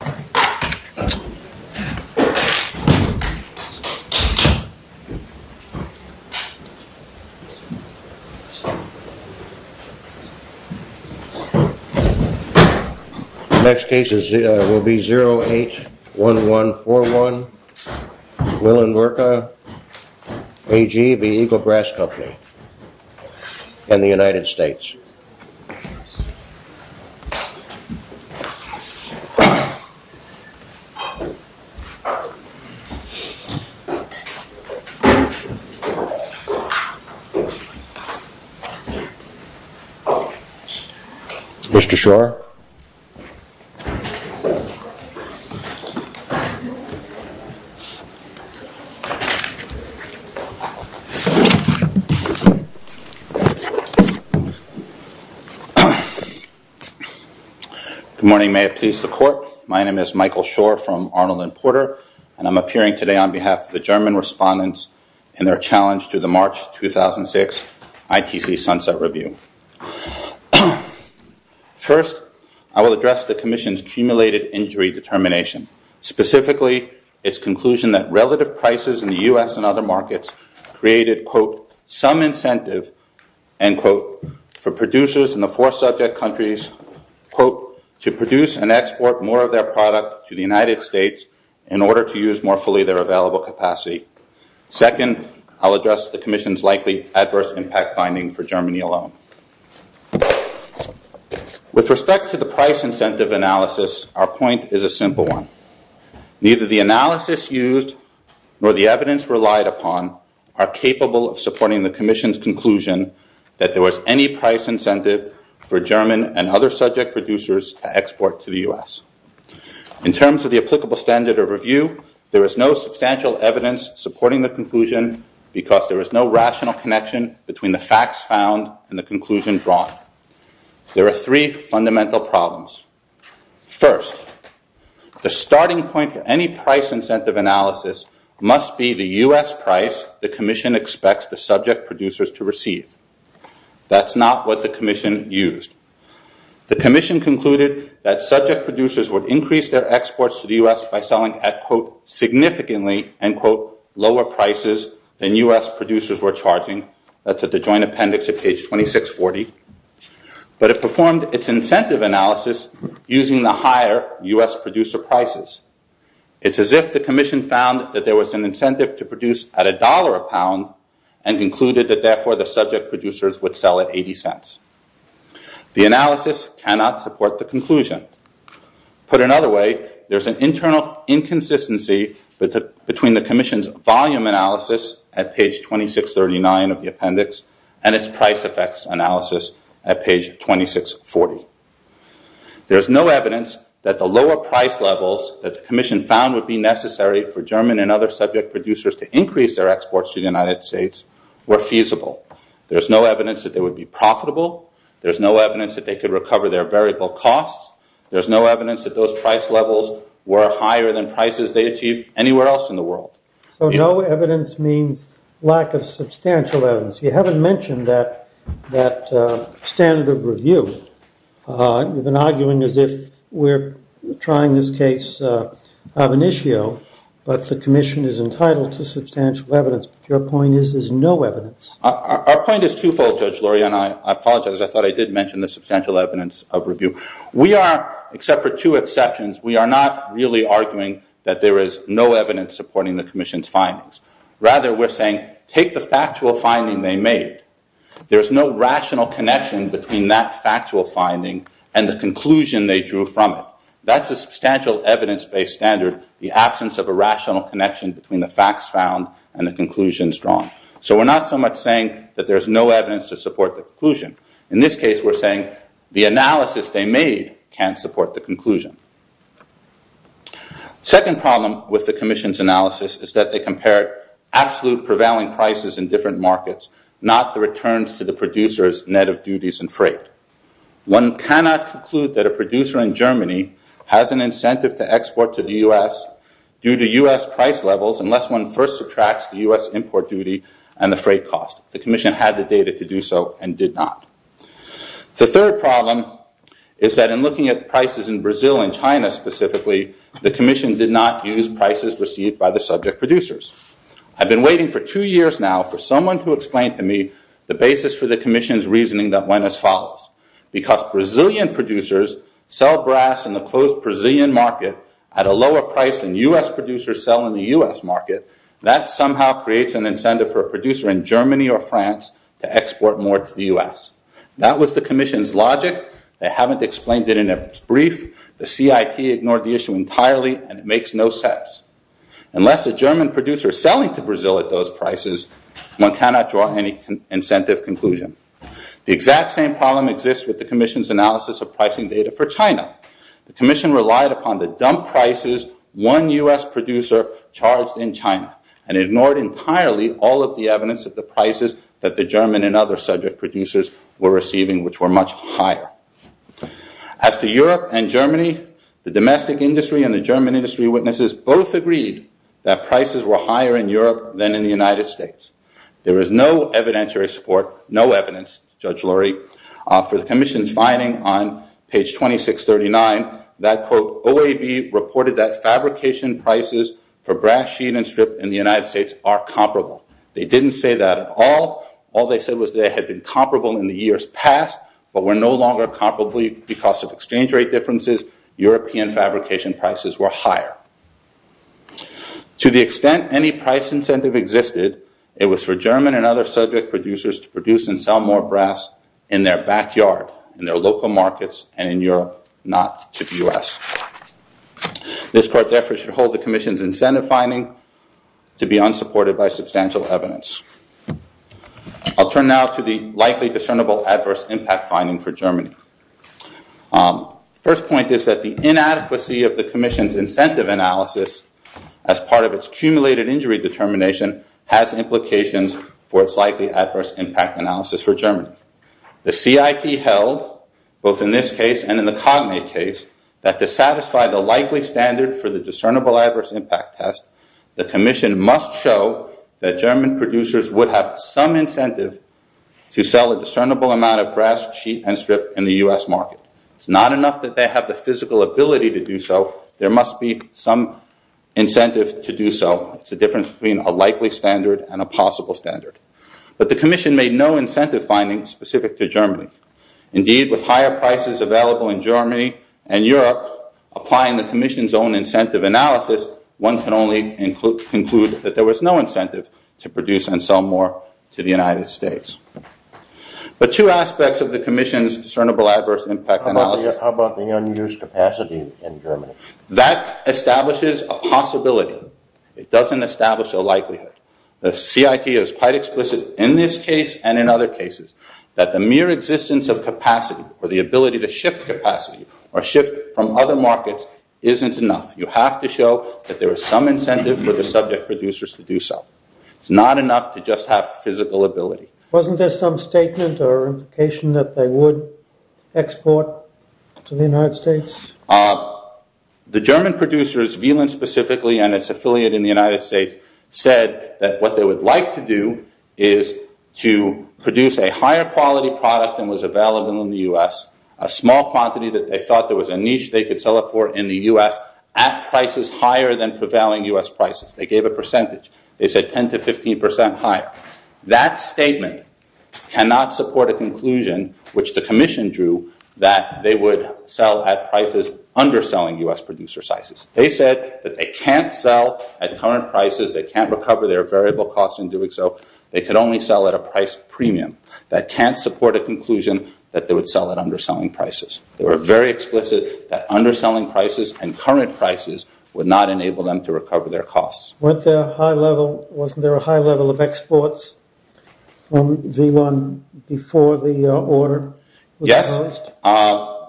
The next case will be 081141 Wieland-Werke AG v. Eagle Brass Company and the United States. Mr. Schroer. Good morning. May it please the Court. My name is Michael Schroer from Arnold and Porter and I'm appearing today on behalf of the German respondents in their challenge to the March 2006 ITC Sunset Review. First, I will address the Commission's accumulated injury determination, specifically its conclusion that relative prices in the U.S. and other markets created, quote, some incentive, end quote, for producers in the four subject countries, quote, to produce and export more of their product to the United States in order to use more fully their available capacity. Second, I'll address the Commission's likely adverse impact finding for Germany alone. With respect to the price incentive analysis, our point is a simple one. Neither the analysis used nor the evidence relied upon are capable of supporting the Commission's conclusion that there was any price incentive for German and other subject producers to export to the U.S. In terms of the applicable standard of review, there is no substantial evidence supporting the conclusion because there is no rational connection between the facts found and the conclusion drawn. There are three fundamental problems. First, the starting point for any price incentive analysis must be the U.S. price the Commission expects the subject producers to receive. That's not what the Commission used. The Commission concluded that subject producers would increase their exports to the U.S. by selling at, quote, significantly, end quote, lower prices than U.S. producers were charging. That's at the joint appendix at page 2640. But it performed its incentive analysis using the higher U.S. producer prices. It's as if the Commission found that there was an incentive to produce at a dollar a pound and concluded that therefore the subject producers would sell at 80 cents. The analysis cannot support the conclusion. Put another way, there is an internal inconsistency between the Commission's volume analysis at page 2639 of the appendix and its price effects analysis at page 2640. There is no evidence that the lower price levels that the Commission found would be necessary for German and other subject producers to increase their exports to the United States were feasible. There's no evidence that they would be profitable. There's no evidence that they could recover their variable costs. There's no evidence that those price levels were higher than prices they achieved anywhere else in the world. So no evidence means lack of substantial evidence. You haven't mentioned that standard of review. You've been arguing as if we're trying this case of an issue, but the Commission is entitled to substantial evidence. But your point is there's no evidence. Our point is twofold, Judge Lori, and I apologize. I thought I did mention the substantial evidence of review. We are, except for two exceptions, we are not really arguing that there is no evidence supporting the Commission's findings. Rather, we're saying take the factual finding they made. There's no rational connection between that factual finding and the conclusion they drew from it. That's a substantial evidence-based standard, the absence of a rational connection between the facts found and the conclusions drawn. So we're not so much saying that there's no evidence to support the conclusion. In this case, we're saying the analysis they made can support the conclusion. Second problem with the Commission's analysis is that they compared absolute prevailing prices in different markets, not the returns to the producers' net of duties and freight. One cannot conclude that a producer in Germany has an incentive to export to the U.S. due to U.S. price levels unless one first subtracts the U.S. import duty and the freight cost. The Commission had the data to do so and did not. The third problem is that in looking at prices in Brazil and China specifically, the Commission did not use prices received by the subject producers. I've been waiting for two years now for someone to explain to me the basis for the Commission's reasoning that went as follows. Because Brazilian producers sell brass in the closed Brazilian market at a lower price than U.S. producers sell in the U.S. market, that somehow creates an incentive for a producer in Germany or France to export more to the U.S. That was the Commission's logic. They haven't explained it in a brief. The CIP ignored the issue entirely and it makes no sense. Unless a German producer is selling to Brazil at those prices, one cannot draw any incentive conclusion. The exact same problem exists with the Commission's analysis of pricing data for China. The Commission relied upon the dump prices one U.S. producer charged in China and ignored entirely all of the evidence of the prices that the German and other subject producers were receiving, which were much higher. As to Europe and Germany, the domestic industry and the German industry witnesses both agreed that prices were higher in Europe than in the United States. There is no evidentiary support, no evidence, Judge Lurie, for the Commission's finding on page 2639 that, quote, OAB reported that fabrication prices for brass sheet and strip in the United States are comparable. They didn't say that at all. All they said was they had been comparable in the years past but were no longer comparable because of exchange rate differences. European fabrication prices were higher. To the extent any price incentive existed, it was for German and other subject producers to produce and sell more brass in their backyard, in their local markets, and in Europe, not to the U.S. This Court therefore should hold the Commission's incentive finding to be unsupported by substantial evidence. I'll turn now to the likely discernible adverse impact finding for Germany. First point is that the inadequacy of the Commission's incentive analysis as part of its cumulated injury determination has implications for its likely adverse impact analysis for Germany. The CIP held, both in this case and in the Cognate case, that to satisfy the likely standard for the discernible adverse impact test, the Commission must show that German producers would have some incentive to sell a discernible amount of brass sheet and strip in the U.S. market. It's not enough that they have the physical ability to do so. There must be some incentive to do so. It's the difference between a likely standard and a possible standard. But the Commission made no incentive findings specific to Germany. Indeed, with higher prices available in Germany and Europe, applying the Commission's own incentive analysis, one can only conclude that there was no incentive to produce and sell more to the United States. But two aspects of the Commission's discernible adverse impact analysis. That establishes a possibility. It doesn't establish a likelihood. The CIP is quite explicit in this case and in other cases that the mere existence of capacity or the ability to shift capacity or shift from other markets isn't enough. You have to show that there is some incentive for the subject producers to do so. It's not enough to just have physical ability. Isn't there some statement or indication that they would export to the United States? The German producers, Wieland specifically and its affiliate in the United States, said that what they would like to do is to produce a higher quality product than was available in the U.S., a small quantity that they thought there was a niche they could sell it for in the U.S., at prices higher than prevailing U.S. prices. They gave a percentage. They said 10 to 15 percent higher. That statement cannot support a conclusion, which the Commission drew, that they would sell at prices underselling U.S. producer sizes. They said that they can't sell at current prices. They can't recover their variable costs in doing so. They could only sell at a price premium. That can't support a conclusion that they would sell at underselling prices. They were very explicit that underselling prices and current prices would not enable them to recover their costs. Wasn't there a high level of exports from Wieland before the order was imposed?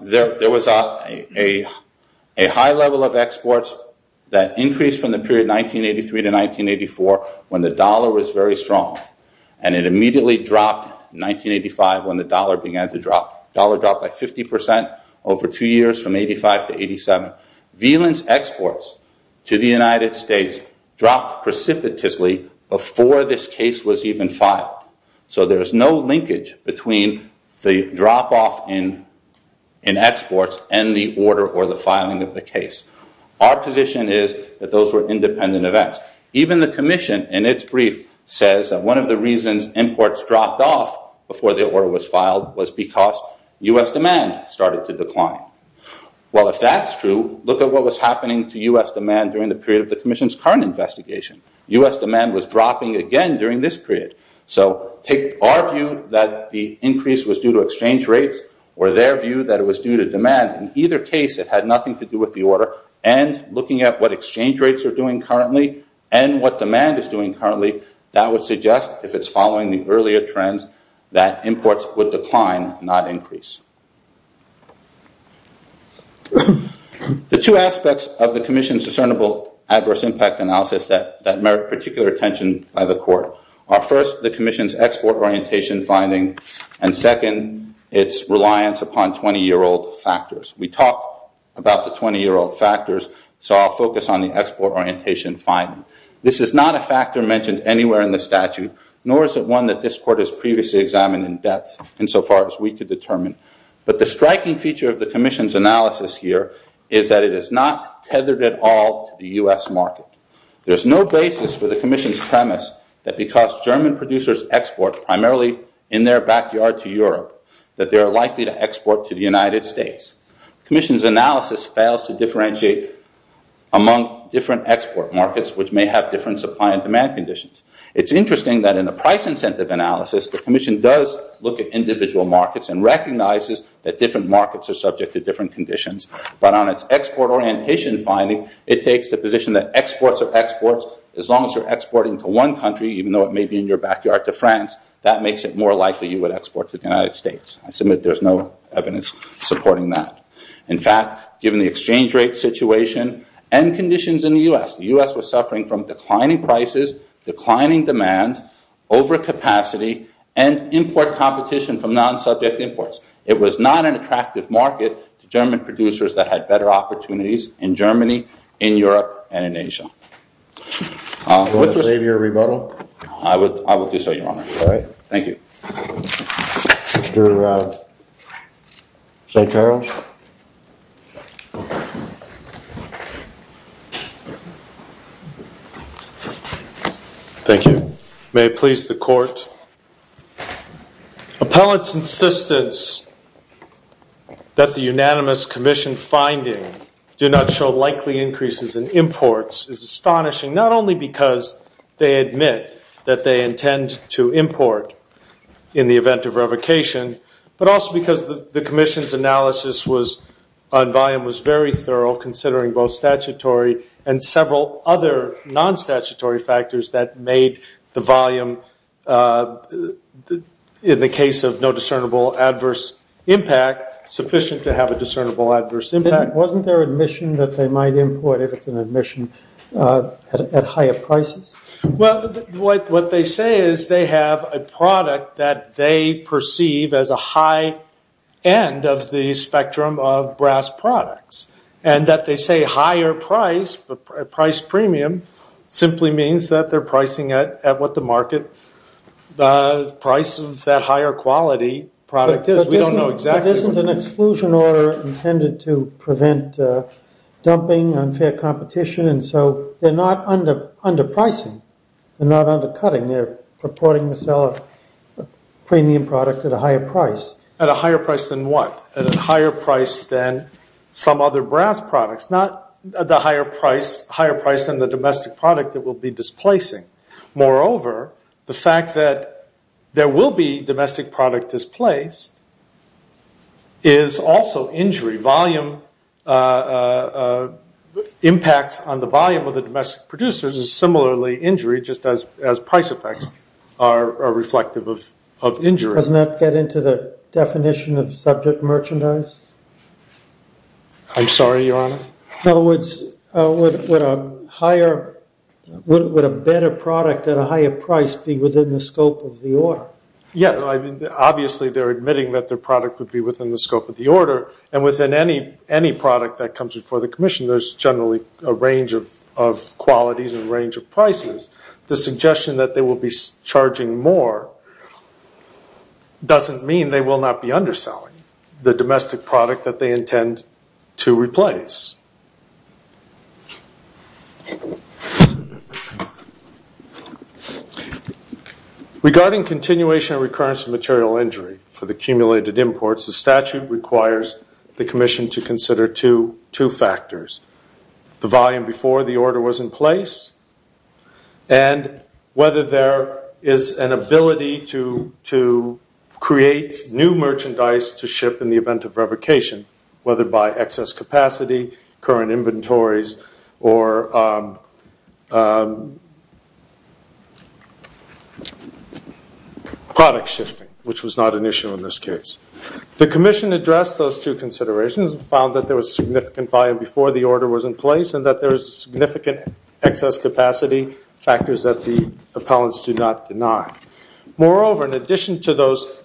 There was a high level of exports that increased from the period 1983 to 1984 when the dollar was very strong. It immediately dropped in 1985 when the dollar began to drop. The dollar dropped by 50 percent over two years from 1985 to 1987. Wieland's exports to the United States dropped precipitously before this case was even filed. So there's no linkage between the drop off in exports and the order or the filing of the case. Our position is that those were independent events. Even the Commission, in its brief, says that one of the reasons imports dropped off before the order was filed was because U.S. demand started to decline. Well, if that's true, look at what was happening to U.S. demand during the period of the Commission's current investigation. U.S. demand was dropping again during this period. So take our view that the increase was due to exchange rates or their view that it was due to demand. In either case, it had nothing to do with the order. And looking at what exchange rates are doing currently and what demand is doing currently, that would suggest, if it's following the earlier trends, that imports would decline, not increase. The two aspects of the Commission's discernible adverse impact analysis that merit particular attention by the Court are, first, the Commission's export orientation finding, and second, its reliance upon 20-year-old factors. We talked about the 20-year-old factors, so I'll focus on the export orientation finding. This is not a factor mentioned anywhere in the statute, nor is it one that this Court has previously examined in depth insofar as we could determine. But the striking feature of the Commission's analysis here is that it is not tethered at all to the U.S. market. There's no basis for the Commission's premise that because German producers export primarily in their backyard to Europe, that they are likely to export to the United States. The Commission's analysis fails to differentiate among different export markets, which may have different supply and demand conditions. It's interesting that in the price incentive analysis, the Commission does look at individual markets and recognizes that different markets are subject to different conditions. But on its export orientation finding, it takes the position that exports are exports. As long as you're exporting to one country, even though it may be in your backyard to France, that makes it more likely you would export to the United States. I submit there's no evidence supporting that. In fact, given the exchange rate situation and conditions in the U.S., the U.S. was suffering from declining prices, declining demand, overcapacity, and import competition from non-subject imports. It was not an attractive market to German producers that had better opportunities in Germany, in Europe, and in Asia. Do you want to save your rebuttal? I would do so, Your Honor. All right. Thank you. Mr. St. Charles? Thank you. May it please the Court. Appellant's insistence that the unanimous Commission finding do not show likely increases in imports is astonishing not only because they admit that they intend to import in the event of revocation, but also because the Commission's analysis on volume was very thorough, considering both statutory and several other non-statutory factors that made the volume, in the case of no discernible adverse impact, sufficient to have a discernible adverse impact. Wasn't there admission that they might import if it's an admission at higher prices? Well, what they say is they have a product that they perceive as a high end of the spectrum of brass products, and that they say higher price, price premium, simply means that they're pricing it at what the market price of that higher quality product is. But isn't an exclusion order intended to prevent dumping, unfair competition? And so they're not underpricing. They're not undercutting. They're purporting to sell a premium product at a higher price. At a higher price than what? At a higher price than some other brass products, not the higher price than the domestic product that will be displacing. Moreover, the fact that there will be domestic product displaced is also injury. Volume impacts on the volume of the domestic producers is similarly injury, just as price effects are reflective of injury. Doesn't that get into the definition of subject merchandise? I'm sorry, Your Honor? In other words, would a better product at a higher price be within the scope of the order? Yeah, obviously they're admitting that their product would be within the scope of the order, and within any product that comes before the commission, there's generally a range of qualities and range of prices. The suggestion that they will be charging more doesn't mean they will not be underselling the domestic product that they intend to replace. Regarding continuation and recurrence of material injury for the accumulated imports, the statute requires the commission to consider two factors, the volume before the order was in place and whether there is an ability to create new merchandise to ship in the event of revocation, whether by excess capacity, current inventories, or product shifting, which was not an issue in this case. The commission addressed those two considerations and found that there was significant volume before the order was in place and that there was significant excess capacity, factors that the appellants do not deny. Moreover, in addition to those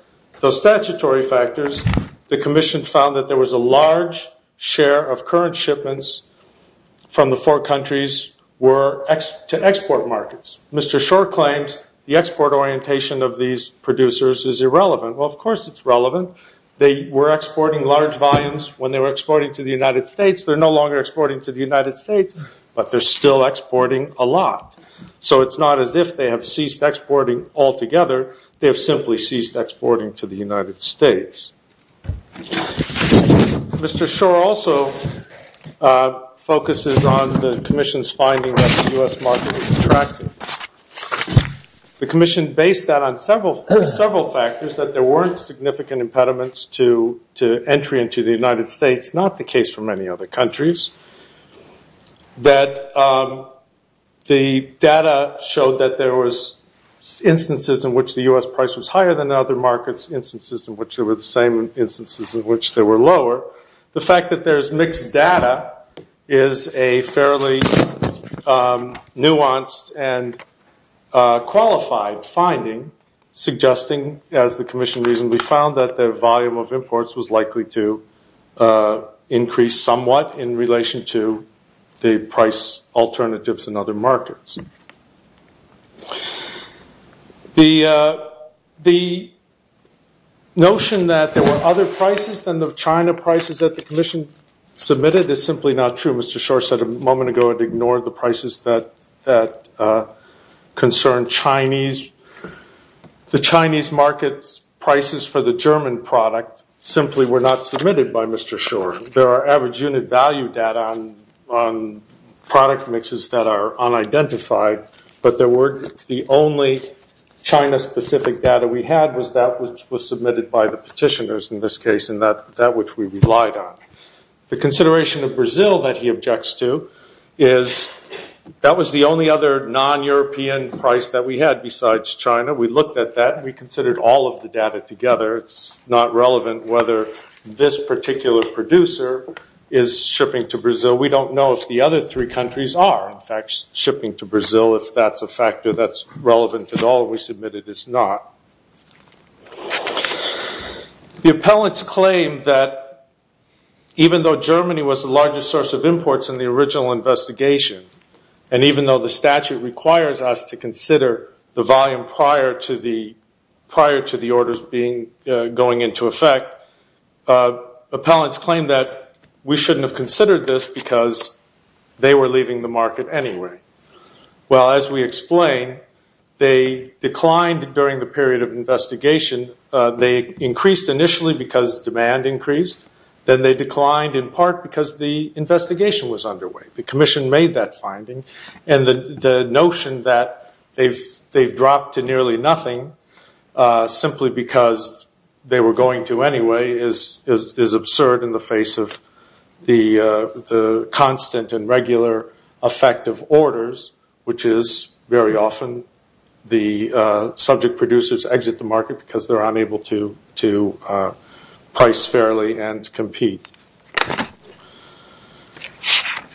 statutory factors, the commission found that there was a large share of current shipments from the four countries to export markets. Mr. Shore claims the export orientation of these producers is irrelevant. Well, of course it's relevant. They were exporting large volumes when they were exporting to the United States. They're no longer exporting to the United States, but they're still exporting a lot. So it's not as if they have ceased exporting altogether. They have simply ceased exporting to the United States. Mr. Shore also focuses on the commission's finding that the U.S. market is attractive. The commission based that on several factors, that there weren't significant impediments to entry into the United States, not the case for many other countries, that the data showed that there was instances in which the U.S. price was higher than other markets, instances in which there were the same instances in which they were lower. The fact that there's mixed data is a fairly nuanced and qualified finding, suggesting, as the commission reasoned, we found that the volume of imports was likely to increase somewhat in relation to the price alternatives in other markets. The notion that there were other prices than the China prices that the commission submitted is simply not true. As Mr. Shore said a moment ago, it ignored the prices that concern Chinese. The Chinese market's prices for the German product simply were not submitted by Mr. Shore. There are average unit value data on product mixes that are unidentified, but the only China-specific data we had was that which was submitted by the petitioners in this case, and that which we relied on. The consideration of Brazil that he objects to is that was the only other non-European price that we had besides China. We looked at that, and we considered all of the data together. It's not relevant whether this particular producer is shipping to Brazil. We don't know if the other three countries are, in fact, shipping to Brazil, if that's a factor that's relevant at all, and we submit it is not. The appellants claim that even though Germany was the largest source of imports in the original investigation, and even though the statute requires us to consider the volume prior to the orders going into effect, appellants claim that we shouldn't have considered this because they were leaving the market anyway. Well, as we explained, they declined during the period of investigation. They increased initially because demand increased. Then they declined in part because the investigation was underway. The commission made that finding, and the notion that they've dropped to nearly nothing simply because they were going to anyway is absurd in the face of the constant and regular effect of orders, which is very often the subject producers exit the market because they're unable to price fairly and compete.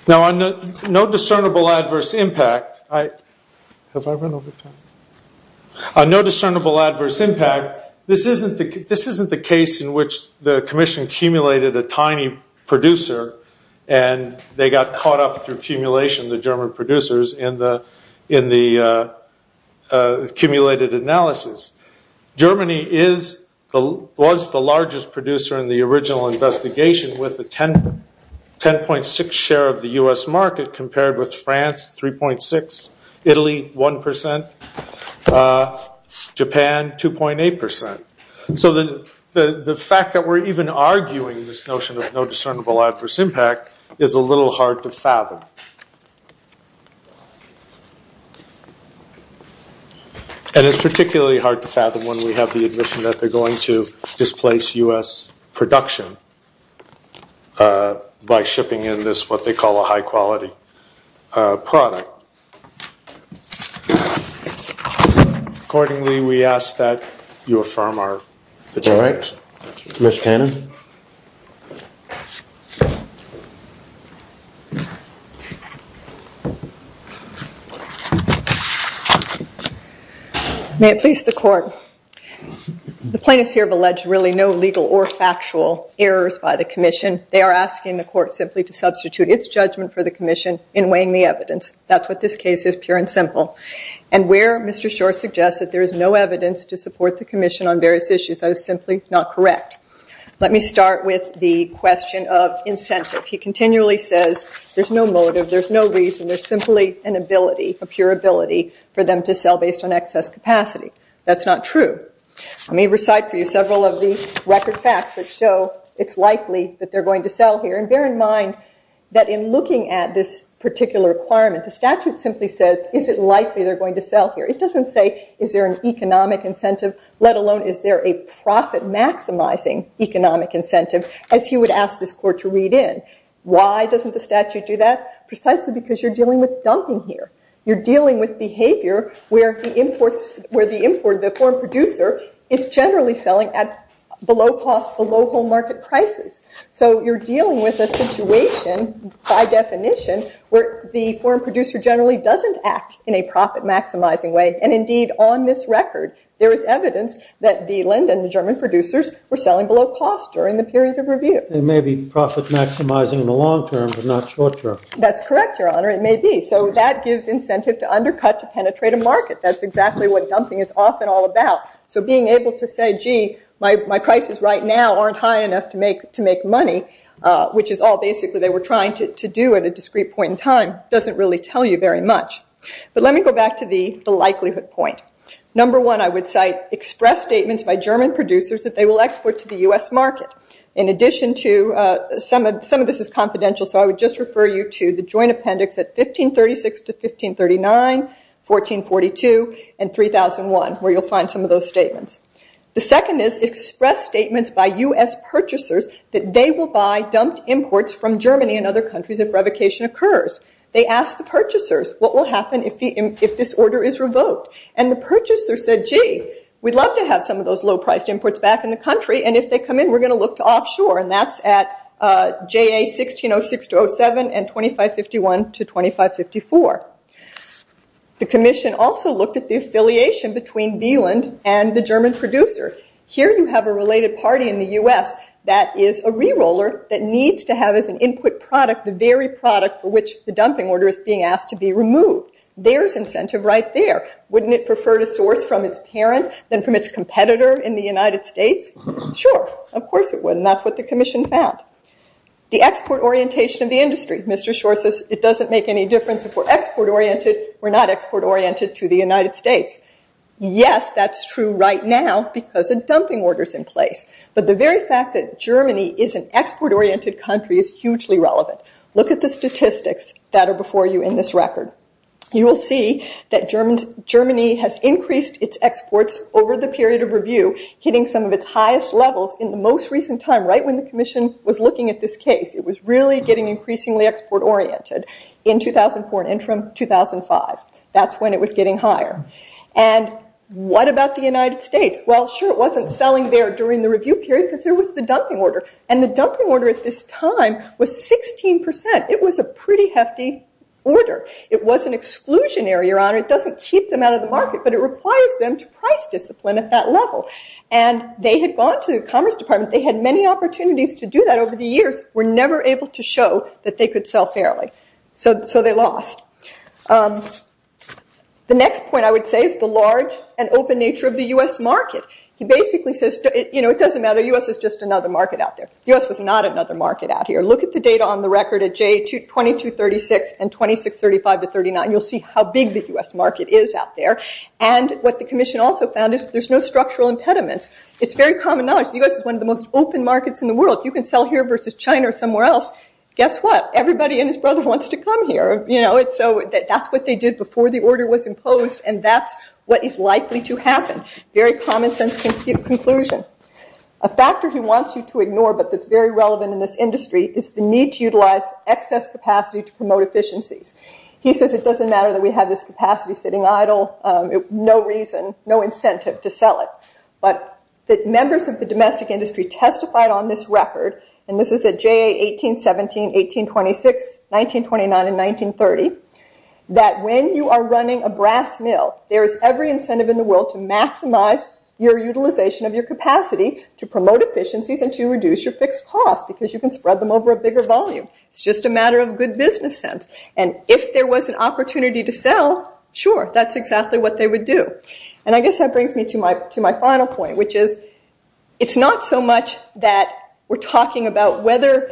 Now, on no discernible adverse impact, have I run over time? On no discernible adverse impact, this isn't the case in which the commission accumulated a tiny producer and they got caught up through accumulation, the German producers, in the accumulated analysis. Germany was the largest producer in the original investigation with a 10.6 share of the US market compared with France, 3.6, Italy, 1%, Japan, 2.8%. So the fact that we're even arguing this notion of no discernible adverse impact is a little hard to fathom. And it's particularly hard to fathom when we have the admission that they're going to displace US production by shipping in this what they call a high-quality product. Accordingly, we ask that you affirm our determination. All right. Mr. Cannon. May it please the court. The plaintiffs here have alleged really no legal or factual errors by the commission. They are asking the court simply to substitute its judgment for the commission in weighing the evidence. That's what this case is, pure and simple. And where Mr. Shore suggests that there is no evidence to support the commission on various issues, that is simply not correct. Let me start with the question of incentive. He continually says there's no motive, there's no reason, there's simply an ability, a pure ability for them to sell based on excess capacity. That's not true. Let me recite for you several of the record facts that show it's likely that they're going to sell here. And bear in mind that in looking at this particular requirement, the statute simply says is it likely they're going to sell here. It doesn't say is there an economic incentive, let alone is there a profit-maximizing economic incentive, as he would ask this court to read in. Why doesn't the statute do that? Precisely because you're dealing with dumping here. You're dealing with behavior where the import, the foreign producer, is generally selling at below cost, below home market prices. So you're dealing with a situation, by definition, where the foreign producer generally doesn't act in a profit-maximizing way. And indeed, on this record, there is evidence that Diehlend and the German producers were selling below cost during the period of review. It may be profit-maximizing in the long term, but not short term. That's correct, Your Honor, it may be. So that gives incentive to undercut, to penetrate a market. That's exactly what dumping is often all about. So being able to say, gee, my prices right now aren't high enough to make money, which is all, basically, they were trying to do at a discrete point in time, doesn't really tell you very much. But let me go back to the likelihood point. Number one, I would cite express statements by German producers that they will export to the U.S. market. In addition to, some of this is confidential, so I would just refer you to the joint appendix at 1536 to 1539, 1442, and 3001, where you'll find some of those statements. The second is express statements by U.S. purchasers that they will buy dumped imports from Germany and other countries if revocation occurs. They asked the purchasers, what will happen if this order is revoked? And the purchasers said, gee, we'd love to have some of those low-priced imports back in the country, and if they come in, we're going to look to offshore, and that's at JA1606-07 and 2551-2554. The Commission also looked at the affiliation between Bieland and the German producer. Here you have a related party in the U.S. that is a re-roller that needs to have as an input product the very product for which the dumping order is being asked to be removed. There's incentive right there. Wouldn't it prefer to source from its parent than from its competitor in the United States? Sure, of course it would, and that's what the Commission found. The export orientation of the industry. Mr. Schor says, it doesn't make any difference if we're export-oriented. We're not export-oriented to the United States. Yes, that's true right now because a dumping order is in place, but the very fact that Germany is an export-oriented country is hugely relevant. Look at the statistics that are before you in this record. You will see that Germany has increased its exports over the period of review, hitting some of its highest levels in the most recent time, right when the Commission was looking at this case. It was really getting increasingly export-oriented in 2004 and from 2005. That's when it was getting higher. And what about the United States? Well, sure, it wasn't selling there during the review period because there was the dumping order, and the dumping order at this time was 16%. It was a pretty hefty order. It was an exclusionary, Your Honor. It doesn't keep them out of the market, but it requires them to price discipline at that level, and they had gone to the Commerce Department. They had many opportunities to do that over the years. We're never able to show that they could sell fairly, so they lost. The next point I would say is the large and open nature of the U.S. market. He basically says, you know, it doesn't matter. The U.S. is just another market out there. The U.S. was not another market out here. Look at the data on the record at J2236 and 2635-39. You'll see how big the U.S. market is out there, and what the Commission also found is there's no structural impediment. It's very common knowledge. The U.S. is one of the most open markets in the world. You can sell here versus China or somewhere else. Guess what? Everybody and his brother wants to come here. That's what they did before the order was imposed, and that's what is likely to happen. Very common sense conclusion. A factor he wants you to ignore but that's very relevant in this industry is the need to utilize excess capacity to promote efficiencies. He says it doesn't matter that we have this capacity sitting idle. No reason, no incentive to sell it. But the members of the domestic industry testified on this record, and this is at J1817, 1826, 1929, and 1930, that when you are running a brass mill, there is every incentive in the world to maximize your utilization of your capacity to promote efficiencies and to reduce your fixed costs because you can spread them over a bigger volume. It's just a matter of good business sense. And if there was an opportunity to sell, sure, that's exactly what they would do. And I guess that brings me to my final point, which is it's not so much that we're talking about whether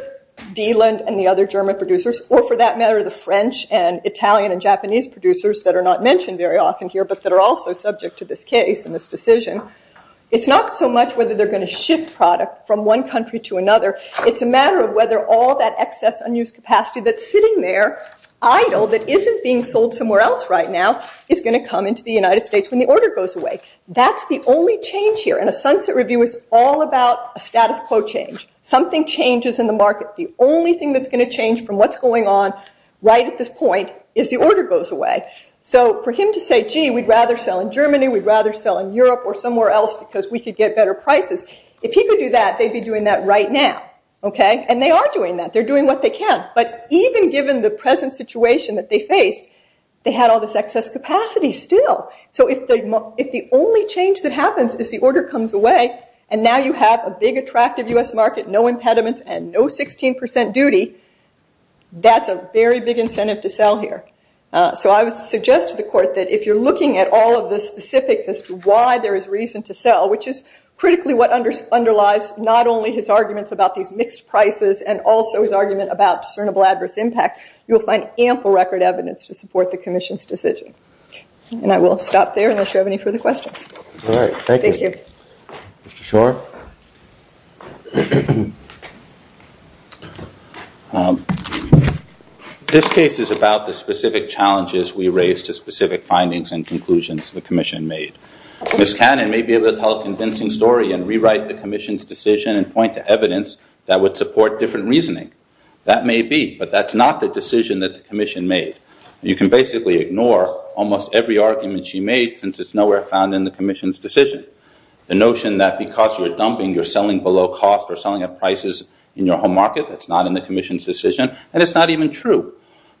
Dieland and the other German producers, or for that matter, the French and Italian and Japanese producers that are not mentioned very often here but that are also subject to this case and this decision. It's not so much whether they're going to ship product from one country to another. It's a matter of whether all that excess unused capacity that's sitting there idle that isn't being sold somewhere else right now is going to come into the United States when the order goes away. That's the only change here. And a sunset review is all about a status quo change. Something changes in the market. The only thing that's going to change from what's going on right at this point is the order goes away. So for him to say, gee, we'd rather sell in Germany, we'd rather sell in Europe or somewhere else because we could get better prices, if he could do that, they'd be doing that right now. And they are doing that. They're doing what they can. But even given the present situation that they faced, they had all this excess capacity still. So if the only change that happens is the order comes away and now you have a big attractive U.S. market, no impediments and no 16% duty, that's a very big incentive to sell here. So I would suggest to the court that if you're looking at all of the specifics as to why there is reason to sell, which is critically what underlies not only his arguments about these mixed prices and also his argument about discernible adverse impact, you'll find ample record evidence to support the commission's decision. And I will stop there unless you have any further questions. All right, thank you. Thank you. Mr. Schor. This case is about the specific challenges we raised to specific findings and conclusions the commission made. Ms. Cannon may be able to tell a convincing story and rewrite the commission's decision and point to evidence that would support different reasoning. That may be, but that's not the decision that the commission made. You can basically ignore almost every argument she made since it's nowhere found in the commission's decision. The notion that because you're dumping you're selling below cost or selling at prices in your home market, that's not in the commission's decision, and it's not even true.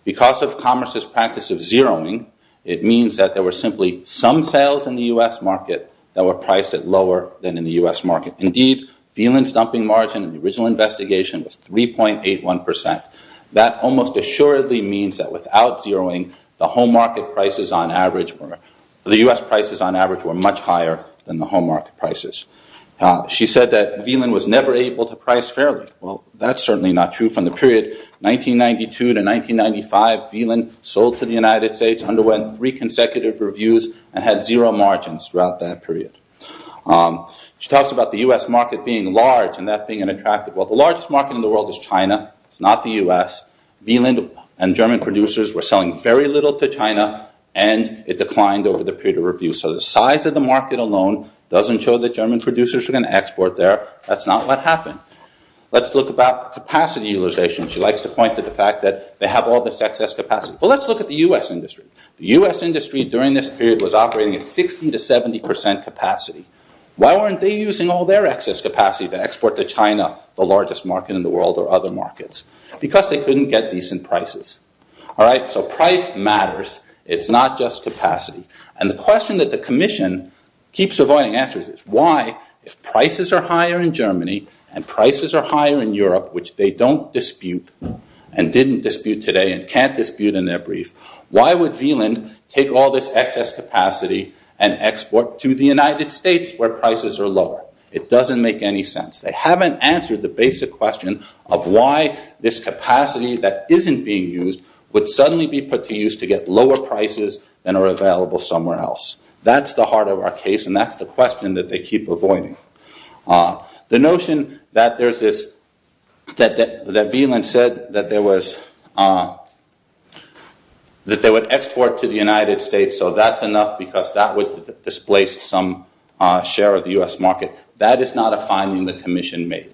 Because of commerce's practice of zeroing, it means that there were simply some sales in the U.S. market that were priced at lower than in the U.S. market. Indeed, Phelan's dumping margin in the original investigation was 3.81%. That almost assuredly means that without zeroing, the U.S. prices on average were much higher than the home market prices. She said that Phelan was never able to price fairly. Well, that's certainly not true. From the period 1992 to 1995, Phelan sold to the United States, underwent three consecutive reviews, and had zero margins throughout that period. She talks about the U.S. market being large and that being unattractive. Well, the largest market in the world is China. It's not the U.S. Wieland and German producers were selling very little to China, and it declined over the period of review. So the size of the market alone doesn't show that German producers are going to export there. That's not what happened. Let's look about capacity utilization. She likes to point to the fact that they have all this excess capacity. Well, let's look at the U.S. industry. The U.S. industry during this period was operating at 60% to 70% capacity. Why weren't they using all their excess capacity to export to China, the largest market in the world, or other markets? Because they couldn't get decent prices. So price matters. It's not just capacity. And the question that the Commission keeps avoiding answers is, why, if prices are higher in Germany and prices are higher in Europe, which they don't dispute and didn't dispute today and can't dispute in their brief, why would Wieland take all this excess capacity and export to the United States, where prices are lower? It doesn't make any sense. They haven't answered the basic question of why this capacity that isn't being used would suddenly be put to use to get lower prices than are available somewhere else. That's the heart of our case, and that's the question that they keep avoiding. The notion that Wieland said that they would export to the United States, so that's enough because that would displace some share of the U.S. market, that is not a finding the Commission made.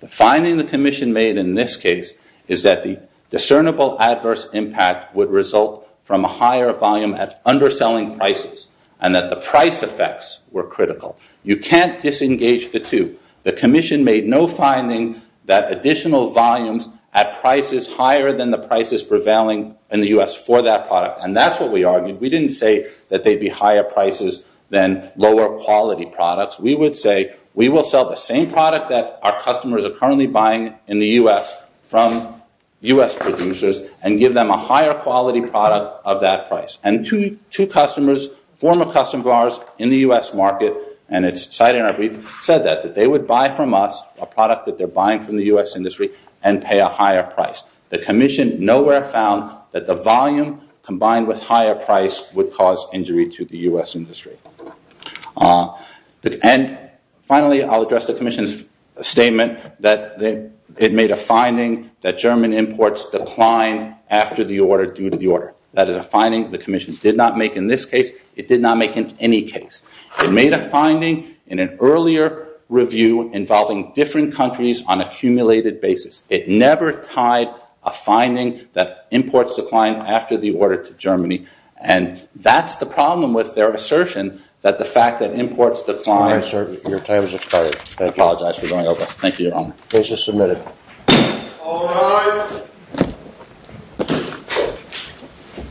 The finding the Commission made in this case is that the discernible adverse impact would result from a higher volume at underselling prices and that the price effects were critical. You can't disengage the two. The Commission made no finding that additional volumes at prices higher than the prices prevailing in the U.S. for that product, and that's what we argued. We didn't say that they'd be higher prices than lower quality products. We would say we will sell the same product that our customers are currently buying in the U.S. from U.S. producers and give them a higher quality product of that price. Two customers, former customers of ours in the U.S. market, and it's cited in our brief, said that they would buy from us a product that they're buying from the U.S. industry and pay a higher price. The Commission nowhere found that the volume combined with higher price would cause injury to the U.S. industry. And finally, I'll address the Commission's statement that it made a finding that German imports declined after the order due to the order. That is a finding the Commission did not make in this case. It did not make in any case. It made a finding in an earlier review involving different countries on a cumulated basis. It never tied a finding that imports declined after the order to Germany, and that's the problem with their assertion that the fact that imports declined. Your time has expired. I apologize for going over. Thank you, Your Honor. Case is submitted. All rise.